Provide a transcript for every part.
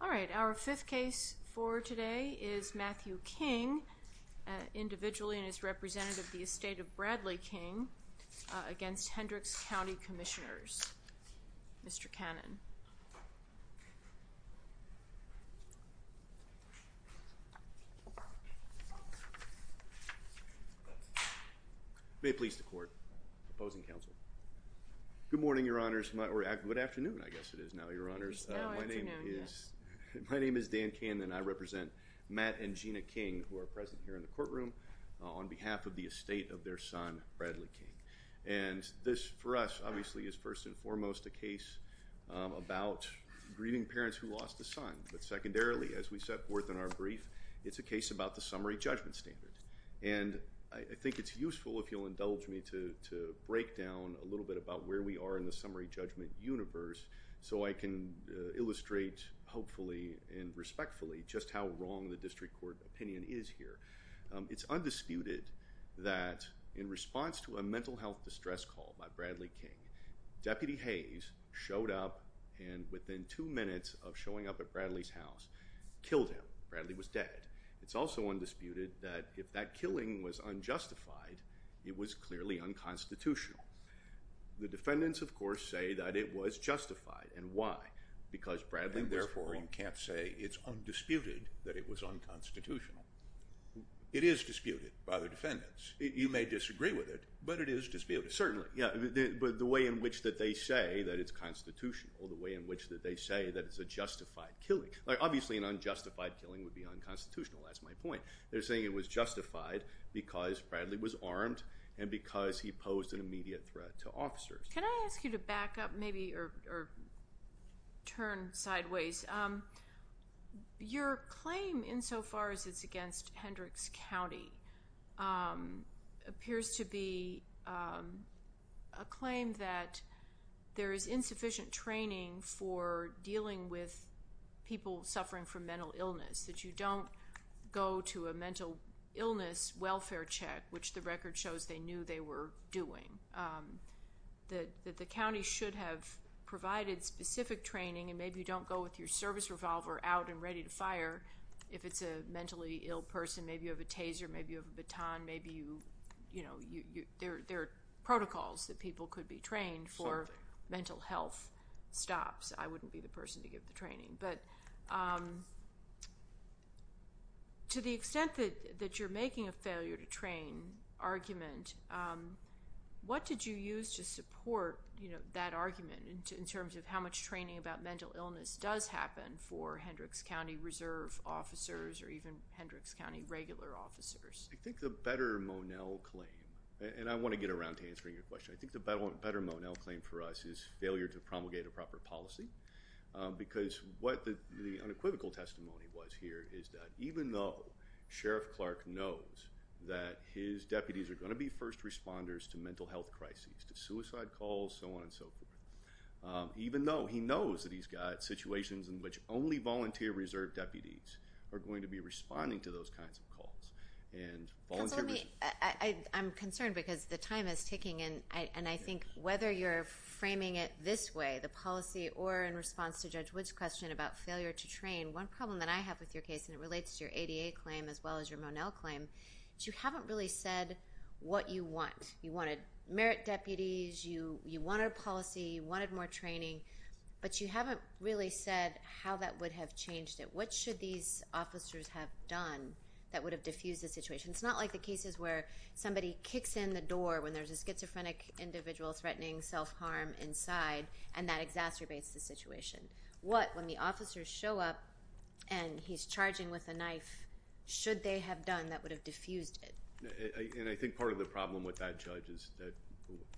All right, our fifth case for today is Matthew King, individually and as representative of the estate of Bradley King, against Hendricks County Commissioners. Mr. Cannon. May it please the court, opposing counsel. Good morning, your honors, or good afternoon, I guess it is now, your honors. My name is Dan Cannon and I represent Matt and Gina King, who are present here in the courtroom, on behalf of the estate of their son, Bradley King. And this for us, obviously, is first and foremost a case about grieving parents who lost a son, but secondarily, as we set forth in our brief, it's a case about the summary judgment standard. And I think it's useful, if you'll indulge me, to break down a little bit about where we are in the summary judgment universe, so I can illustrate, hopefully and respectfully, just how wrong the district court opinion is here. It's undisputed that, in response to a mental health distress call by Bradley King, Deputy Hayes showed up and, within two minutes of showing up at Bradley's house, killed him. Bradley was dead. It's also undisputed that, if that killing was unjustified, it was clearly unconstitutional. The defendants, of course, say that it was justified. And why? Because Bradley was wrong. And therefore, you can't say it's undisputed that it was unconstitutional. It is disputed by the defendants. You may disagree with it, but it is disputed. Certainly, yeah, but the way in which that they say that it's constitutional, the way in which that they say that it's a justified killing. Obviously, an unjustified killing would be unconstitutional. That's my point. They're saying it was justified because Bradley was armed and because he posed an immediate threat to officers. Can I ask you to back up, maybe, or turn sideways? Your claim, insofar as it's Hendricks County, appears to be a claim that there is insufficient training for dealing with people suffering from mental illness, that you don't go to a mental illness welfare check, which the record shows they knew they were doing, that the county should have provided specific training, and maybe you don't go with your service revolver out and ready to fire if it's a mentally ill person. Maybe you have a taser, maybe you have a baton, maybe you, you know, there are protocols that people could be trained for mental health stops. I wouldn't be the person to give the training, but to the extent that you're making a failure to train argument, what did you use to support, you know, that happened for Hendricks County Reserve officers or even Hendricks County regular officers? I think the better Monell claim, and I want to get around to answering your question, I think the better Monell claim for us is failure to promulgate a proper policy because what the unequivocal testimony was here is that even though Sheriff Clark knows that his deputies are going to be first responders to mental health crises, to suicide calls, so on and so forth, even though he knows that he's got situations in which only volunteer reserve deputies are going to be responding to those kinds of calls, and I'm concerned because the time is ticking, and I think whether you're framing it this way, the policy, or in response to Judge Wood's question about failure to train, one problem that I have with your case, and it relates to your ADA claim as well as your Monell claim, is you haven't really said what you want. You wanted merit deputies, you wanted a policy, you wanted more training, but you haven't really said how that would have changed it. What should these officers have done that would have diffused the situation? It's not like the cases where somebody kicks in the door when there's a schizophrenic individual threatening self-harm inside and that exacerbates the situation. What, when the officers show up and he's charging with a knife, should they have done that would have challenged the judges that,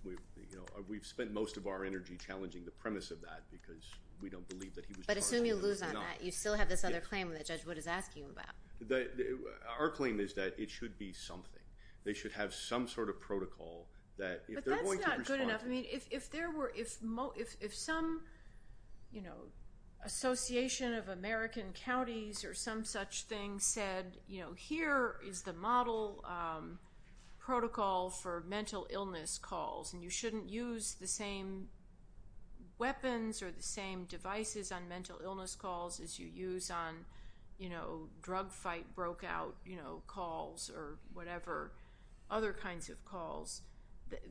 you know, we've spent most of our energy challenging the premise of that because we don't believe that he was charging with a knife. But assume you lose on that, you still have this other claim that Judge Wood is asking about. Our claim is that it should be something. They should have some sort of protocol that if they're going to respond. But that's not good enough. I mean, if there were, if some, you know, association of American counties or some such thing said, you know, here is the model protocol for mental illness calls and you shouldn't use the same weapons or the same devices on mental illness calls as you use on, you know, drug fight broke out, you know, calls or whatever other kinds of calls.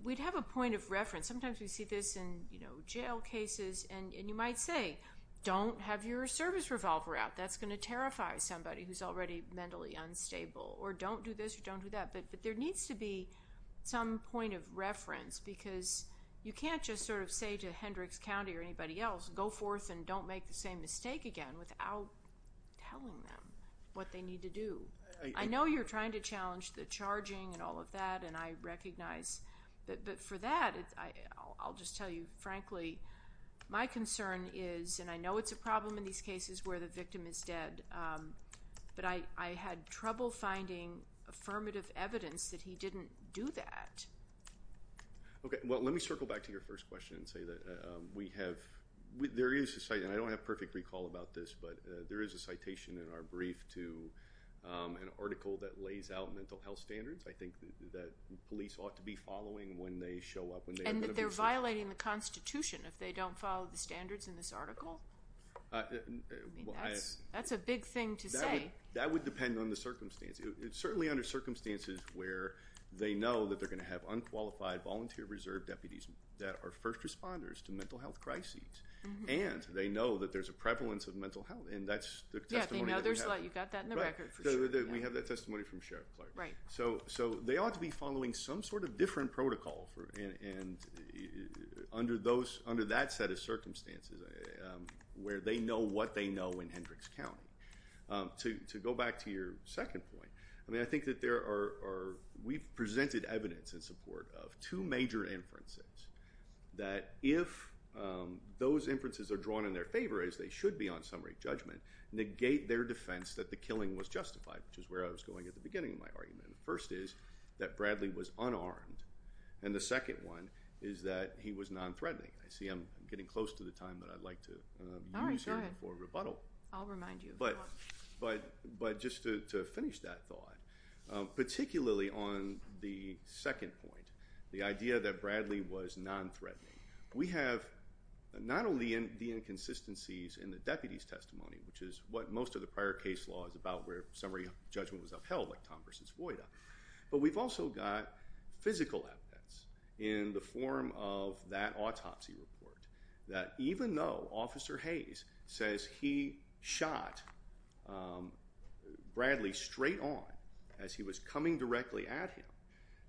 We'd have a point of reference. Sometimes we see this in, you know, jail cases and you might say, don't have your service revolver out. That's going to terrify somebody who's already mentally unstable. Or don't do this or don't do that. But there needs to be some point of reference because you can't just sort of say to Hendricks County or anybody else, go forth and don't make the same mistake again without telling them what they need to do. I know you're trying to challenge the charging and all of that and I recognize. But for that, I'll just tell you frankly, my concern is, and I know it's a problem in these cases where the victim is dead. But I had trouble finding affirmative evidence that he didn't do that. Okay. Well, let me circle back to your first question and say that we have, there is a, and I don't have perfect recall about this, but there is a citation in our brief to an article that lays out mental health standards. I think that police ought to be following when they show up. And that they're violating the Constitution if they don't follow the standards in this article. That's a big thing to say. That would depend on the circumstance. It's certainly under circumstances where they know that they're going to have unqualified volunteer reserve deputies that are first responders to mental health crises. And they know that there's a prevalence of mental health and that's the testimony that we have. Yeah, they know there's a lot. You got that in the record for sure. We have that testimony from Sheriff Clark. Right. So they ought to be following some sort of different protocol and under that set of circumstances where they know what they know in Hendricks County. To go back to your second point, I mean, I think that there are, we've presented evidence in support of two major inferences. That if those inferences are drawn in their favor, as they should be on summary judgment, negate their defense that the killing was justified, which is where I was going at the beginning of my argument. The first is that Bradley was unarmed and the second one is that he was non-threatening. I see I'm getting close to the time that I'd like to use here for rebuttal. I'll remind you. But just to finish that thought, particularly on the second point, the idea that Bradley was non-threatening. We have not only the inconsistencies in the deputy's testimony, which is what most of the prior case law is about where summary judgment was upheld like Tom versus Voida. But we've also got physical evidence in the form of that autopsy report that even though Officer Hayes says he shot Bradley straight on as he was coming directly at him,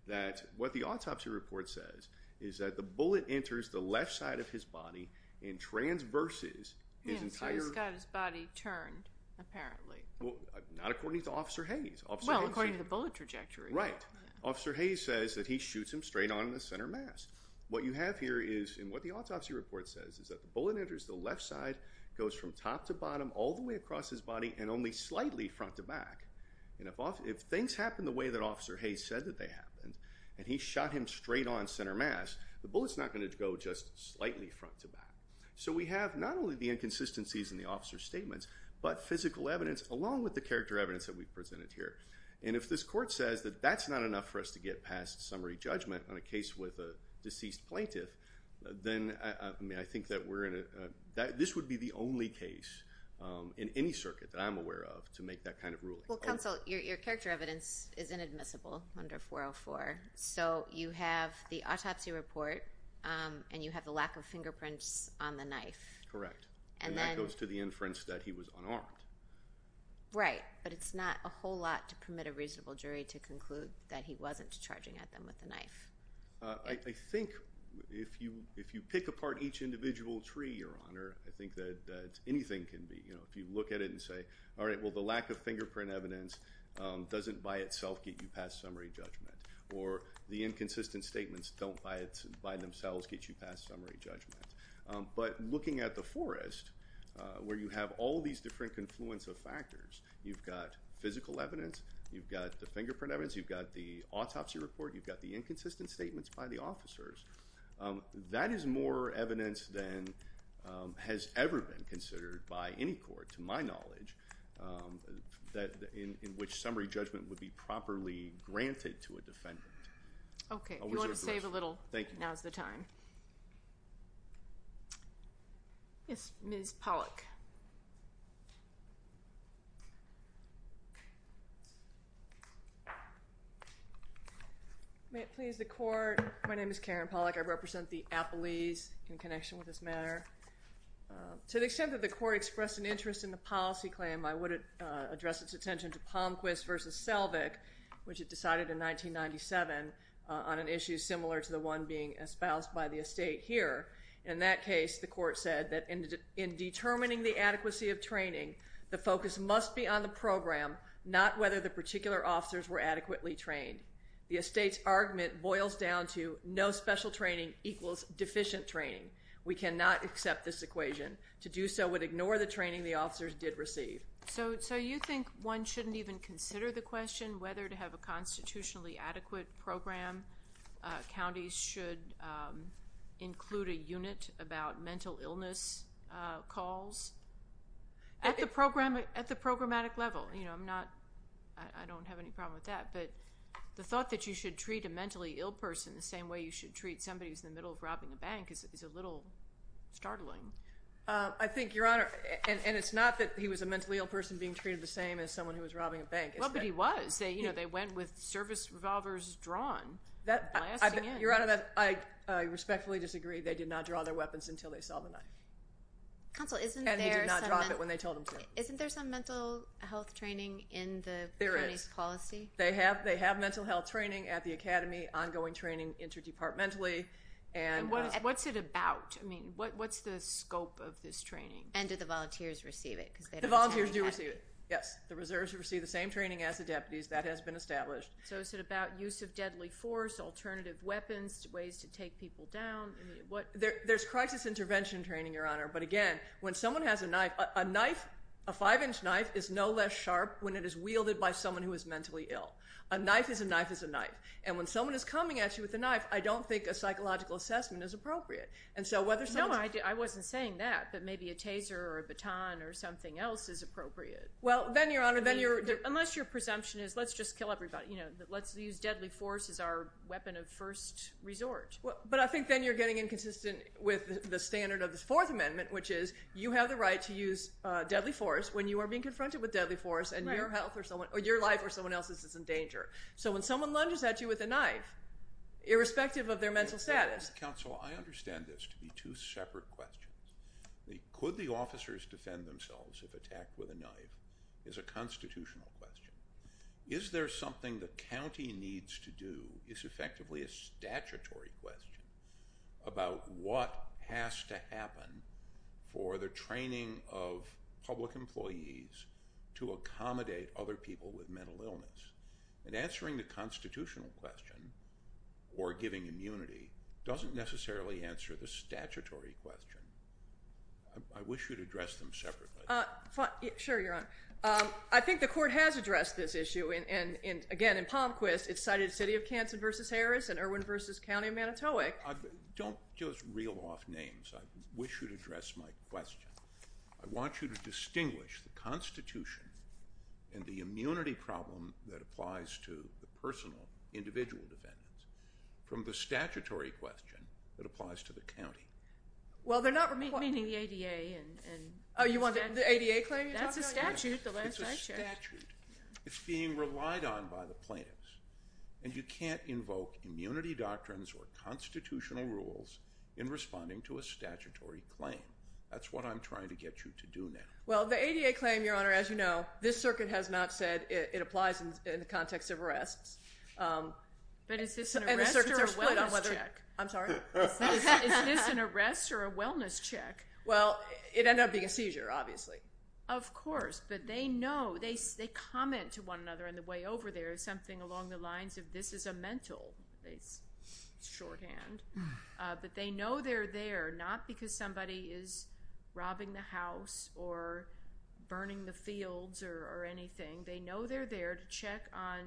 that what the autopsy report says is that the bullet enters the left side of his body and transverses his entire... Yes, so he's got his body turned, apparently. Well, not according to Officer Hayes. Well, according to the bullet trajectory. Right. Officer Hayes says that he shoots him straight on in the center mass. What you have here is, and what the autopsy report says, is that the bullet enters the left side, goes from top to bottom, all the way across his body, and only slightly front to back. And if things happen the way that Officer Hayes said that they happened, and he shot him straight on center mass, the bullet's not going to go just slightly front to back. So we have not only the inconsistencies in the officer's statements, but physical evidence along with the character evidence that we've presented here. And if this court says that that's not enough for us to get past summary judgment on a case with a deceased plaintiff, then I think that this would be the only case in any circuit that I'm aware of to make that kind of ruling. Well, Counsel, your character evidence is inadmissible under 404. So you have the autopsy report, and you have the lack of fingerprints on the knife. Correct. And that goes to the inference that he was unarmed. Right. But it's not a whole lot to permit a reasonable jury to conclude that he wasn't charging at them with a knife. I think if you pick apart each individual tree, Your Honor, I think that anything can be. If you look at it and say, all right, well, the lack of fingerprint evidence doesn't by itself get you past summary judgment. Or the inconsistent statements don't by themselves get you past summary judgment. But looking at the forest, where you have all these different confluence of factors, you've got physical evidence, you've got the fingerprint evidence, you've got the autopsy report, you've got the inconsistent statements by the officers. That is more evidence than has ever been considered by any court, to my knowledge, in which summary judgment would be properly granted to a defendant. Okay. If you want to save a little, now's the time. Yes, Ms. Pollack. May it please the Court. My name is Karen Pollack. I represent the Appellees in connection with this matter. To the extent that the Court expressed an interest in the policy claim, I would address its attention to Palmquist v. Selvig, which it decided in 1997 on an issue similar to the one being espoused by the estate here. In that case, the Court said that in determining the adequacy of training, the focus must be on the program, not whether the particular officers were adequately trained. The estate's argument boils down to no special training equals deficient training. We cannot accept this equation. To do so would ignore the training the officers did receive. So you think one shouldn't even consider the question whether to have a constitutionally adequate program. Counties should include a unit about mental illness calls at the programmatic level. You know, I'm not, I don't have any problem with that. But the thought that you should treat a mentally ill person the same way you should treat somebody who's in the middle of robbing a bank is a little startling. I think, Your Honor, and it's not that he was a mentally ill person being treated the same as someone who was robbing a bank. Well, but he was. They, you know, they went with service revolvers drawn, blasting in. Your Honor, I respectfully disagree. They did not draw their weapons until they saw the knife. Counsel, isn't there some... And he did not drop it when they told him to. Counsel, isn't there some mental health training in the county's policy? There is. They have mental health training at the academy, ongoing training interdepartmentally. And what's it about? I mean, what's the scope of this training? And do the volunteers receive it? The volunteers do receive it. Yes. The reserves receive the same training as the deputies. That has been established. So is it about use of deadly force, alternative weapons, ways to take people down? There's crisis intervention training, Your Honor. But again, when someone has a knife, a knife, a five-inch knife is no less sharp when it is wielded by someone who is mentally ill. A knife is a knife is a knife. And when someone is coming at you with a knife, I don't think a psychological assessment is appropriate. And so whether someone's... No, I wasn't saying that, but maybe a taser or a baton or something else is appropriate. Well, then, Your Honor, then you're... Unless your presumption is let's just kill everybody, you know, let's use deadly force as our weapon of first resort. But I think then you're getting inconsistent with the standard of the Fourth Amendment, which is you have the right to use deadly force when you are being confronted with deadly force and your health or someone... or your life or someone else's is in danger. So when someone lunges at you with a knife, irrespective of their mental status... Counsel, I understand this to be two separate questions. Could the officers defend themselves if attacked with a knife is a constitutional question. Is there something the county needs to do is effectively a statutory question about what has to happen for the training of public employees to accommodate other people with mental illness. And answering the constitutional question or giving immunity doesn't necessarily answer the statutory question. I wish you'd address them separately. Your Honor, I think the court has addressed this issue. And again, in Palmquist, it cited the city of Canton v. Harris and Irwin v. County of Manitowic. Don't just reel off names. I wish you'd address my question. I want you to distinguish the Constitution and the immunity problem that applies to the personal individual defendants from the statutory question that applies to the county. Well, they're not... Meaning the ADA and... Oh, you want the ADA claim you're talking about? That's a statute. It's a statute. It's being relied on by the plaintiffs. And you can't invoke immunity doctrines or constitutional rules in responding to a statutory claim. That's what I'm trying to get you to do now. Well, the ADA claim, Your Honor, as you know, this circuit has not said it applies in the context of arrests. But is this an arrest or a wellness check? I'm sorry? Is this an arrest or a wellness check? Well, it ended up being a seizure, obviously. Of course, but they know. They comment to one another on the way over there something along the lines of this is a mental. It's shorthand. But they know they're there not because somebody is robbing the house or burning the fields or anything. They know they're there to check on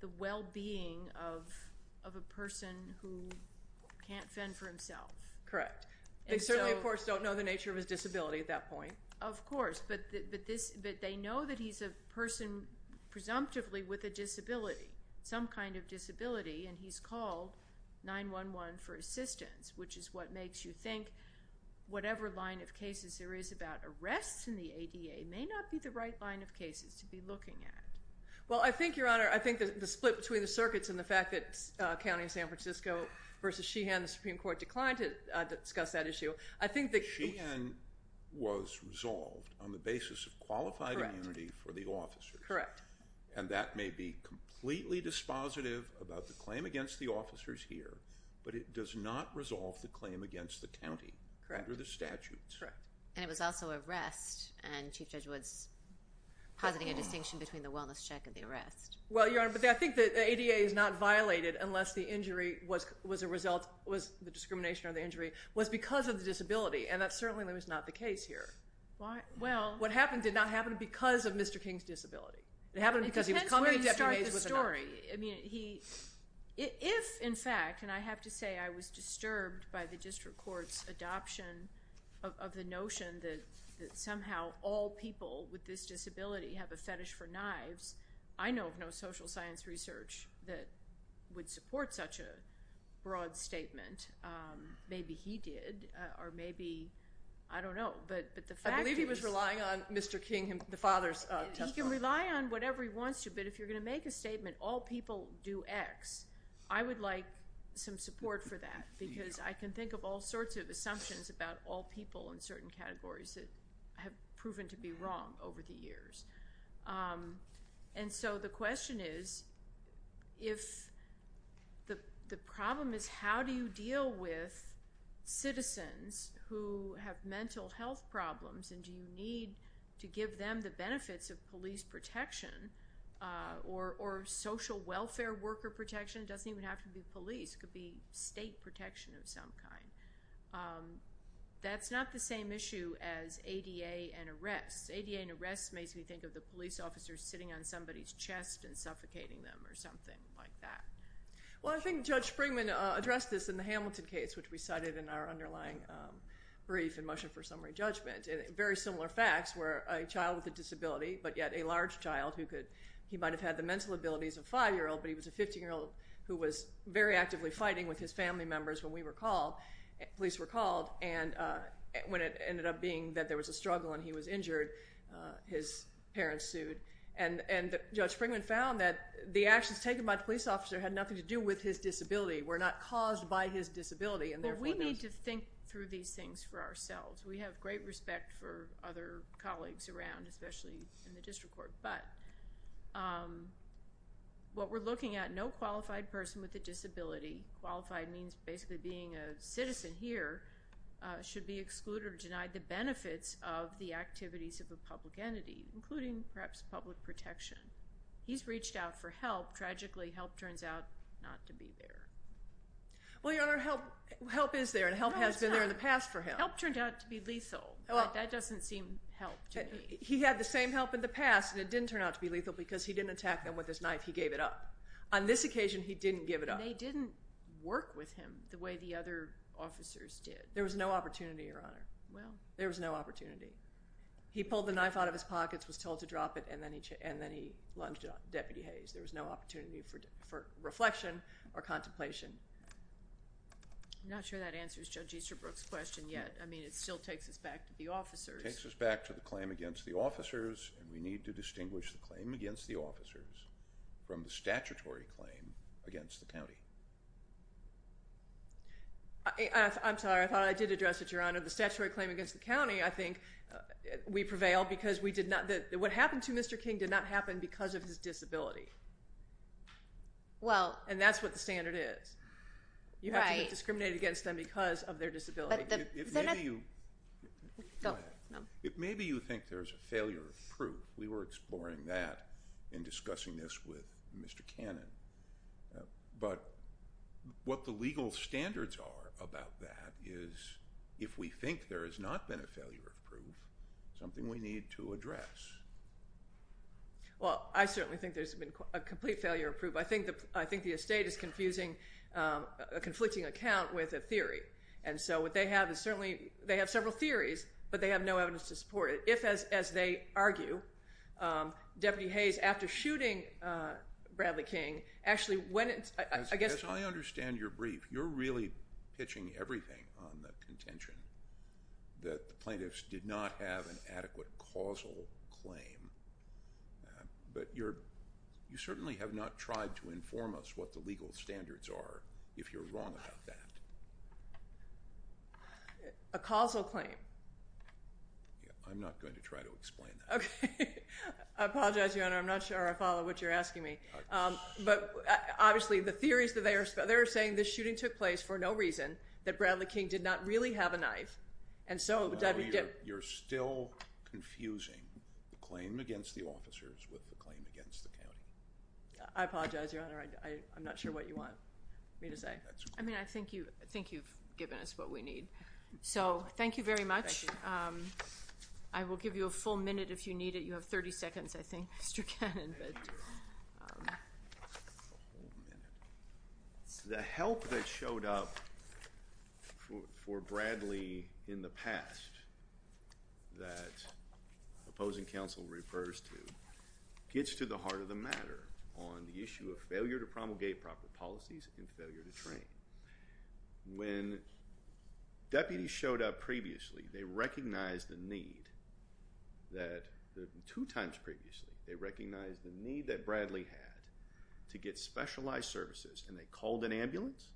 the well-being of a person who can't fend for himself. Correct. They don't know the nature of his disability at that point. Of course, but they know that he's a person presumptively with a disability, some kind of disability. And he's called 911 for assistance, which is what makes you think whatever line of cases there is about arrests in the ADA may not be the right line of cases to be looking at. Well, I think, Your Honor, I think the split between the circuits and the fact that County of San Francisco versus Sheehan, the Supreme Court, declined to discuss that issue. Sheehan was resolved on the basis of qualified immunity for the officers. Correct. And that may be completely dispositive about the claim against the officers here, but it does not resolve the claim against the county under the statutes. Correct. And it was also arrest, and Chief Judge Woods positing a distinction between the wellness check and the arrest. Well, Your Honor, but I think the ADA is not violated unless the injury was a result, was the discrimination or the injury was because of the disability. And that certainly was not the case here. Well. What happened did not happen because of Mr. King's disability. It happened because he was coming to Deputy Mays with a knife. It depends where you start the story. If, in fact, and I have to say I was disturbed by the district court's adoption of the notion that somehow all people with this disability have a fetish for knives, I know of no social science research that would support such a broad statement. Maybe he did, or maybe, I don't know. I believe he was relying on Mr. King, the father's testimony. He can rely on whatever he wants to, but if you're going to make a statement all people do X, I would like some support for that because I can think of all sorts of assumptions about all people in certain categories that have proven to be wrong over the years. And so the question is if the problem is how do you deal with citizens who have mental health problems and do you need to give them the benefits of police protection or social welfare worker protection? It doesn't even have to be police. It could be state protection of some kind. That's not the same issue as ADA and arrests. ADA and arrests makes me think of the police officers sitting on somebody's chest and suffocating them or something like that. Well, I think Judge Springman addressed this in the Hamilton case, which we cited in our underlying brief in Motion for Summary Judgment. Very similar facts were a child with a disability, but yet a large child. He might have had the mental abilities of a five-year-old, but he was a 15-year-old who was very actively fighting with his family members when we were called, police were called. And when it ended up being that there was a struggle and he was injured, his parents sued. And Judge Springman found that the actions taken by the police officer had nothing to do with his disability, were not caused by his disability. Well, we need to think through these things for ourselves. We have great respect for other colleagues around, especially in the district court. But what we're looking at, no qualified person with a disability. Qualified means basically being a citizen here, should be excluded or denied the benefits of the activities of a public entity, including perhaps public protection. He's reached out for help. Tragically, help turns out not to be there. Well, Your Honor, help is there, and help has been there in the past for him. No, it's not. Help turned out to be lethal, but that doesn't seem help to me. He had the same help in the past, and it didn't turn out to be lethal because he didn't attack them with his knife. He gave it up. On this occasion, he didn't give it up. They didn't work with him the way the other officers did. There was no opportunity, Your Honor. Well. There was no opportunity. He pulled the knife out of his pockets, was told to drop it, and then he lunged it on Deputy Hayes. There was no opportunity for reflection or contemplation. I'm not sure that answers Judge Easterbrook's question yet. I mean, it still takes us back to the officers. It takes us back to the claim against the officers, and we need to distinguish the claim against the officers from the statutory claim against the county. I'm sorry. I thought I did address it, Your Honor. The statutory claim against the county, I think we prevail because we did not – what happened to Mr. King did not happen because of his disability. Well. And that's what the standard is. Right. You have to be discriminated against them because of their disability. Go ahead. Maybe you think there's a failure of proof. We were exploring that in discussing this with Mr. Cannon. But what the legal standards are about that is if we think there has not been a failure of proof, something we need to address. Well, I certainly think there's been a complete failure of proof. I think the estate is confusing a conflicting account with a theory. And so what they have is certainly they have several theories, but they have no evidence to support it. If, as they argue, Deputy Hayes, after shooting Bradley King, actually when it's – As I understand your brief, you're really pitching everything on the contention that the plaintiffs did not have an adequate causal claim. But you certainly have not tried to inform us what the legal standards are, if you're wrong about that. A causal claim? I'm not going to try to explain that. Okay. I apologize, Your Honor. I'm not sure I follow what you're asking me. But obviously the theories that they are – they are saying this shooting took place for no reason, that Bradley King did not really have a knife, and so – You're still confusing the claim against the officers with the claim against the county. I apologize, Your Honor. I'm not sure what you want me to say. I mean, I think you've given us what we need. So thank you very much. I will give you a full minute if you need it. You have 30 seconds, I think, Mr. Cannon. Thank you. The help that showed up for Bradley in the past that opposing counsel refers to gets to the heart of the matter on the issue of failure to promulgate proper policies and failure to train. When deputies showed up previously, they recognized the need that – the need that Bradley had to get specialized services, and they called an ambulance,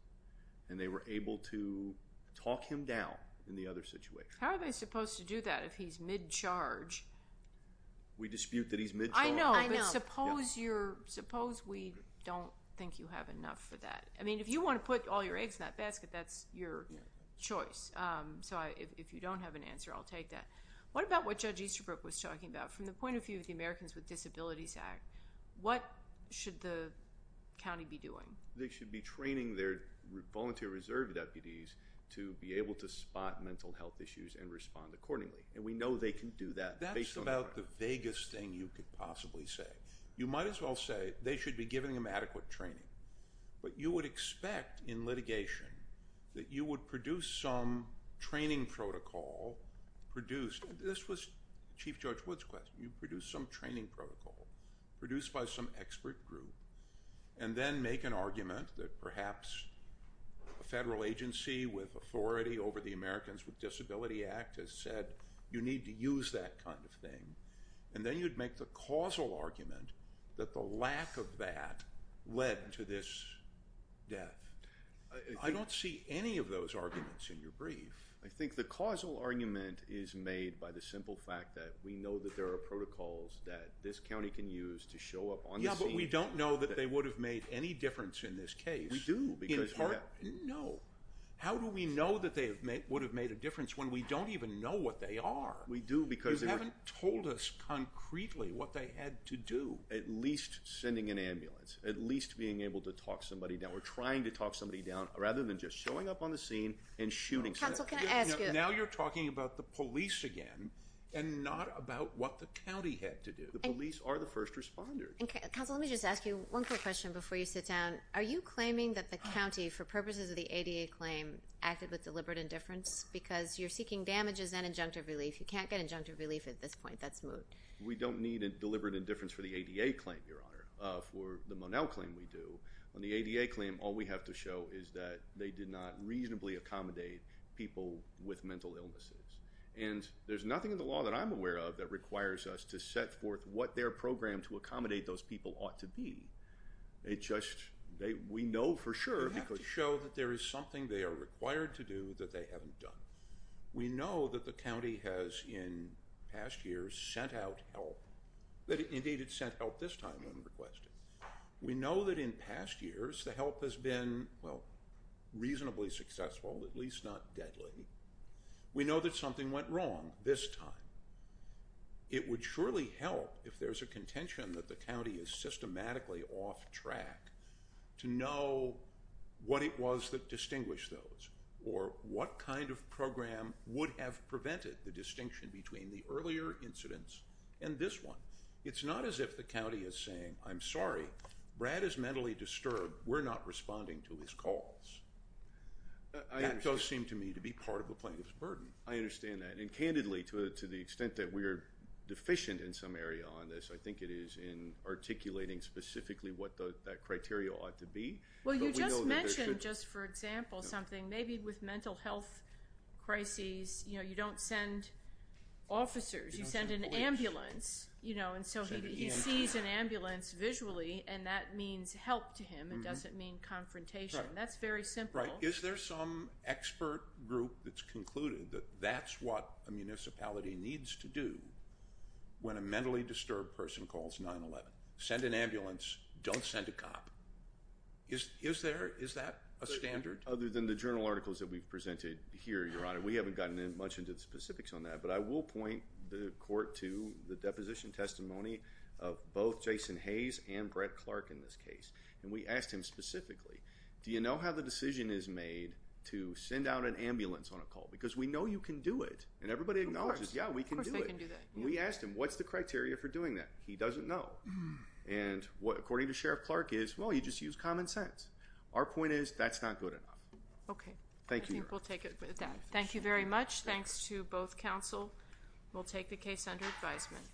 and they were able to talk him down in the other situation. How are they supposed to do that if he's mid-charge? We dispute that he's mid-charge. I know, but suppose you're – suppose we don't think you have enough for that. I mean, if you want to put all your eggs in that basket, that's your choice. So if you don't have an answer, I'll take that. What about what Judge Easterbrook was talking about? From the point of view of the Americans with Disabilities Act, what should the county be doing? They should be training their volunteer reserve deputies to be able to spot mental health issues and respond accordingly. And we know they can do that. That's about the vaguest thing you could possibly say. You might as well say they should be giving him adequate training. But you would expect in litigation that you would produce some training protocol produced. This was Chief Judge Wood's question. You'd produce some training protocol produced by some expert group and then make an argument that perhaps a federal agency with authority over the Americans with Disabilities Act has said you need to use that kind of thing. And then you'd make the causal argument that the lack of that led to this death. I don't see any of those arguments in your brief. I think the causal argument is made by the simple fact that we know that there are protocols that this county can use to show up on the scene. Yeah, but we don't know that they would have made any difference in this case. We do. No. How do we know that they would have made a difference when we don't even know what they are? You haven't told us concretely what they had to do. At least sending an ambulance. At least being able to talk somebody down. We're trying to talk somebody down rather than just showing up on the scene and shooting. Counsel, can I ask you a question? Now you're talking about the police again and not about what the county had to do. The police are the first responders. Counsel, let me just ask you one quick question before you sit down. Are you claiming that the county, for purposes of the ADA claim, acted with deliberate indifference because you're seeking damages and injunctive relief. You can't get injunctive relief at this point. That's moot. We don't need a deliberate indifference for the ADA claim, Your Honor, for the Monell claim we do. On the ADA claim, all we have to show is that they did not reasonably accommodate people with mental illnesses. And there's nothing in the law that I'm aware of that requires us to set forth what their program to accommodate those people ought to be. It's just, we know for sure. You have to show that there is something they are required to do that they haven't done. We know that the county has, in past years, sent out help. Indeed, it sent help this time when requested. We know that in past years the help has been, well, reasonably successful, at least not deadly. We know that something went wrong this time. It would surely help if there's a contention that the county is systematically off track to know what it was that distinguished those or what kind of program would have prevented the distinction between the earlier incidents and this one. It's not as if the county is saying, I'm sorry, Brad is mentally disturbed. We're not responding to his calls. That does seem to me to be part of the plaintiff's burden. I understand that. And candidly, to the extent that we are deficient in some area on this, I think it is in articulating specifically what that criteria ought to be. Well, you just mentioned, just for example, something. Maybe with mental health crises, you know, you don't send officers. You send an ambulance, you know, and so he sees an ambulance visually, and that means help to him and doesn't mean confrontation. That's very simple. Right. Is there some expert group that's concluded that that's what a municipality needs to do when a mentally disturbed person calls 911? Send an ambulance. Don't send a cop. Is there? Is that a standard? Other than the journal articles that we've presented here, Your Honor, we haven't gotten much into the specifics on that. But I will point the court to the deposition testimony of both Jason Hayes and Brett Clark in this case. And we asked him specifically, do you know how the decision is made to send out an ambulance on a call? Because we know you can do it. And everybody acknowledges, yeah, we can do it. Of course they can do that. And we asked him, what's the criteria for doing that? He doesn't know. And according to Sheriff Clark is, well, you just use common sense. Our point is that's not good enough. Okay. Thank you, Your Honor. I think we'll take it with that. Thank you very much. Thanks to both counsel. We'll take the case under advisement.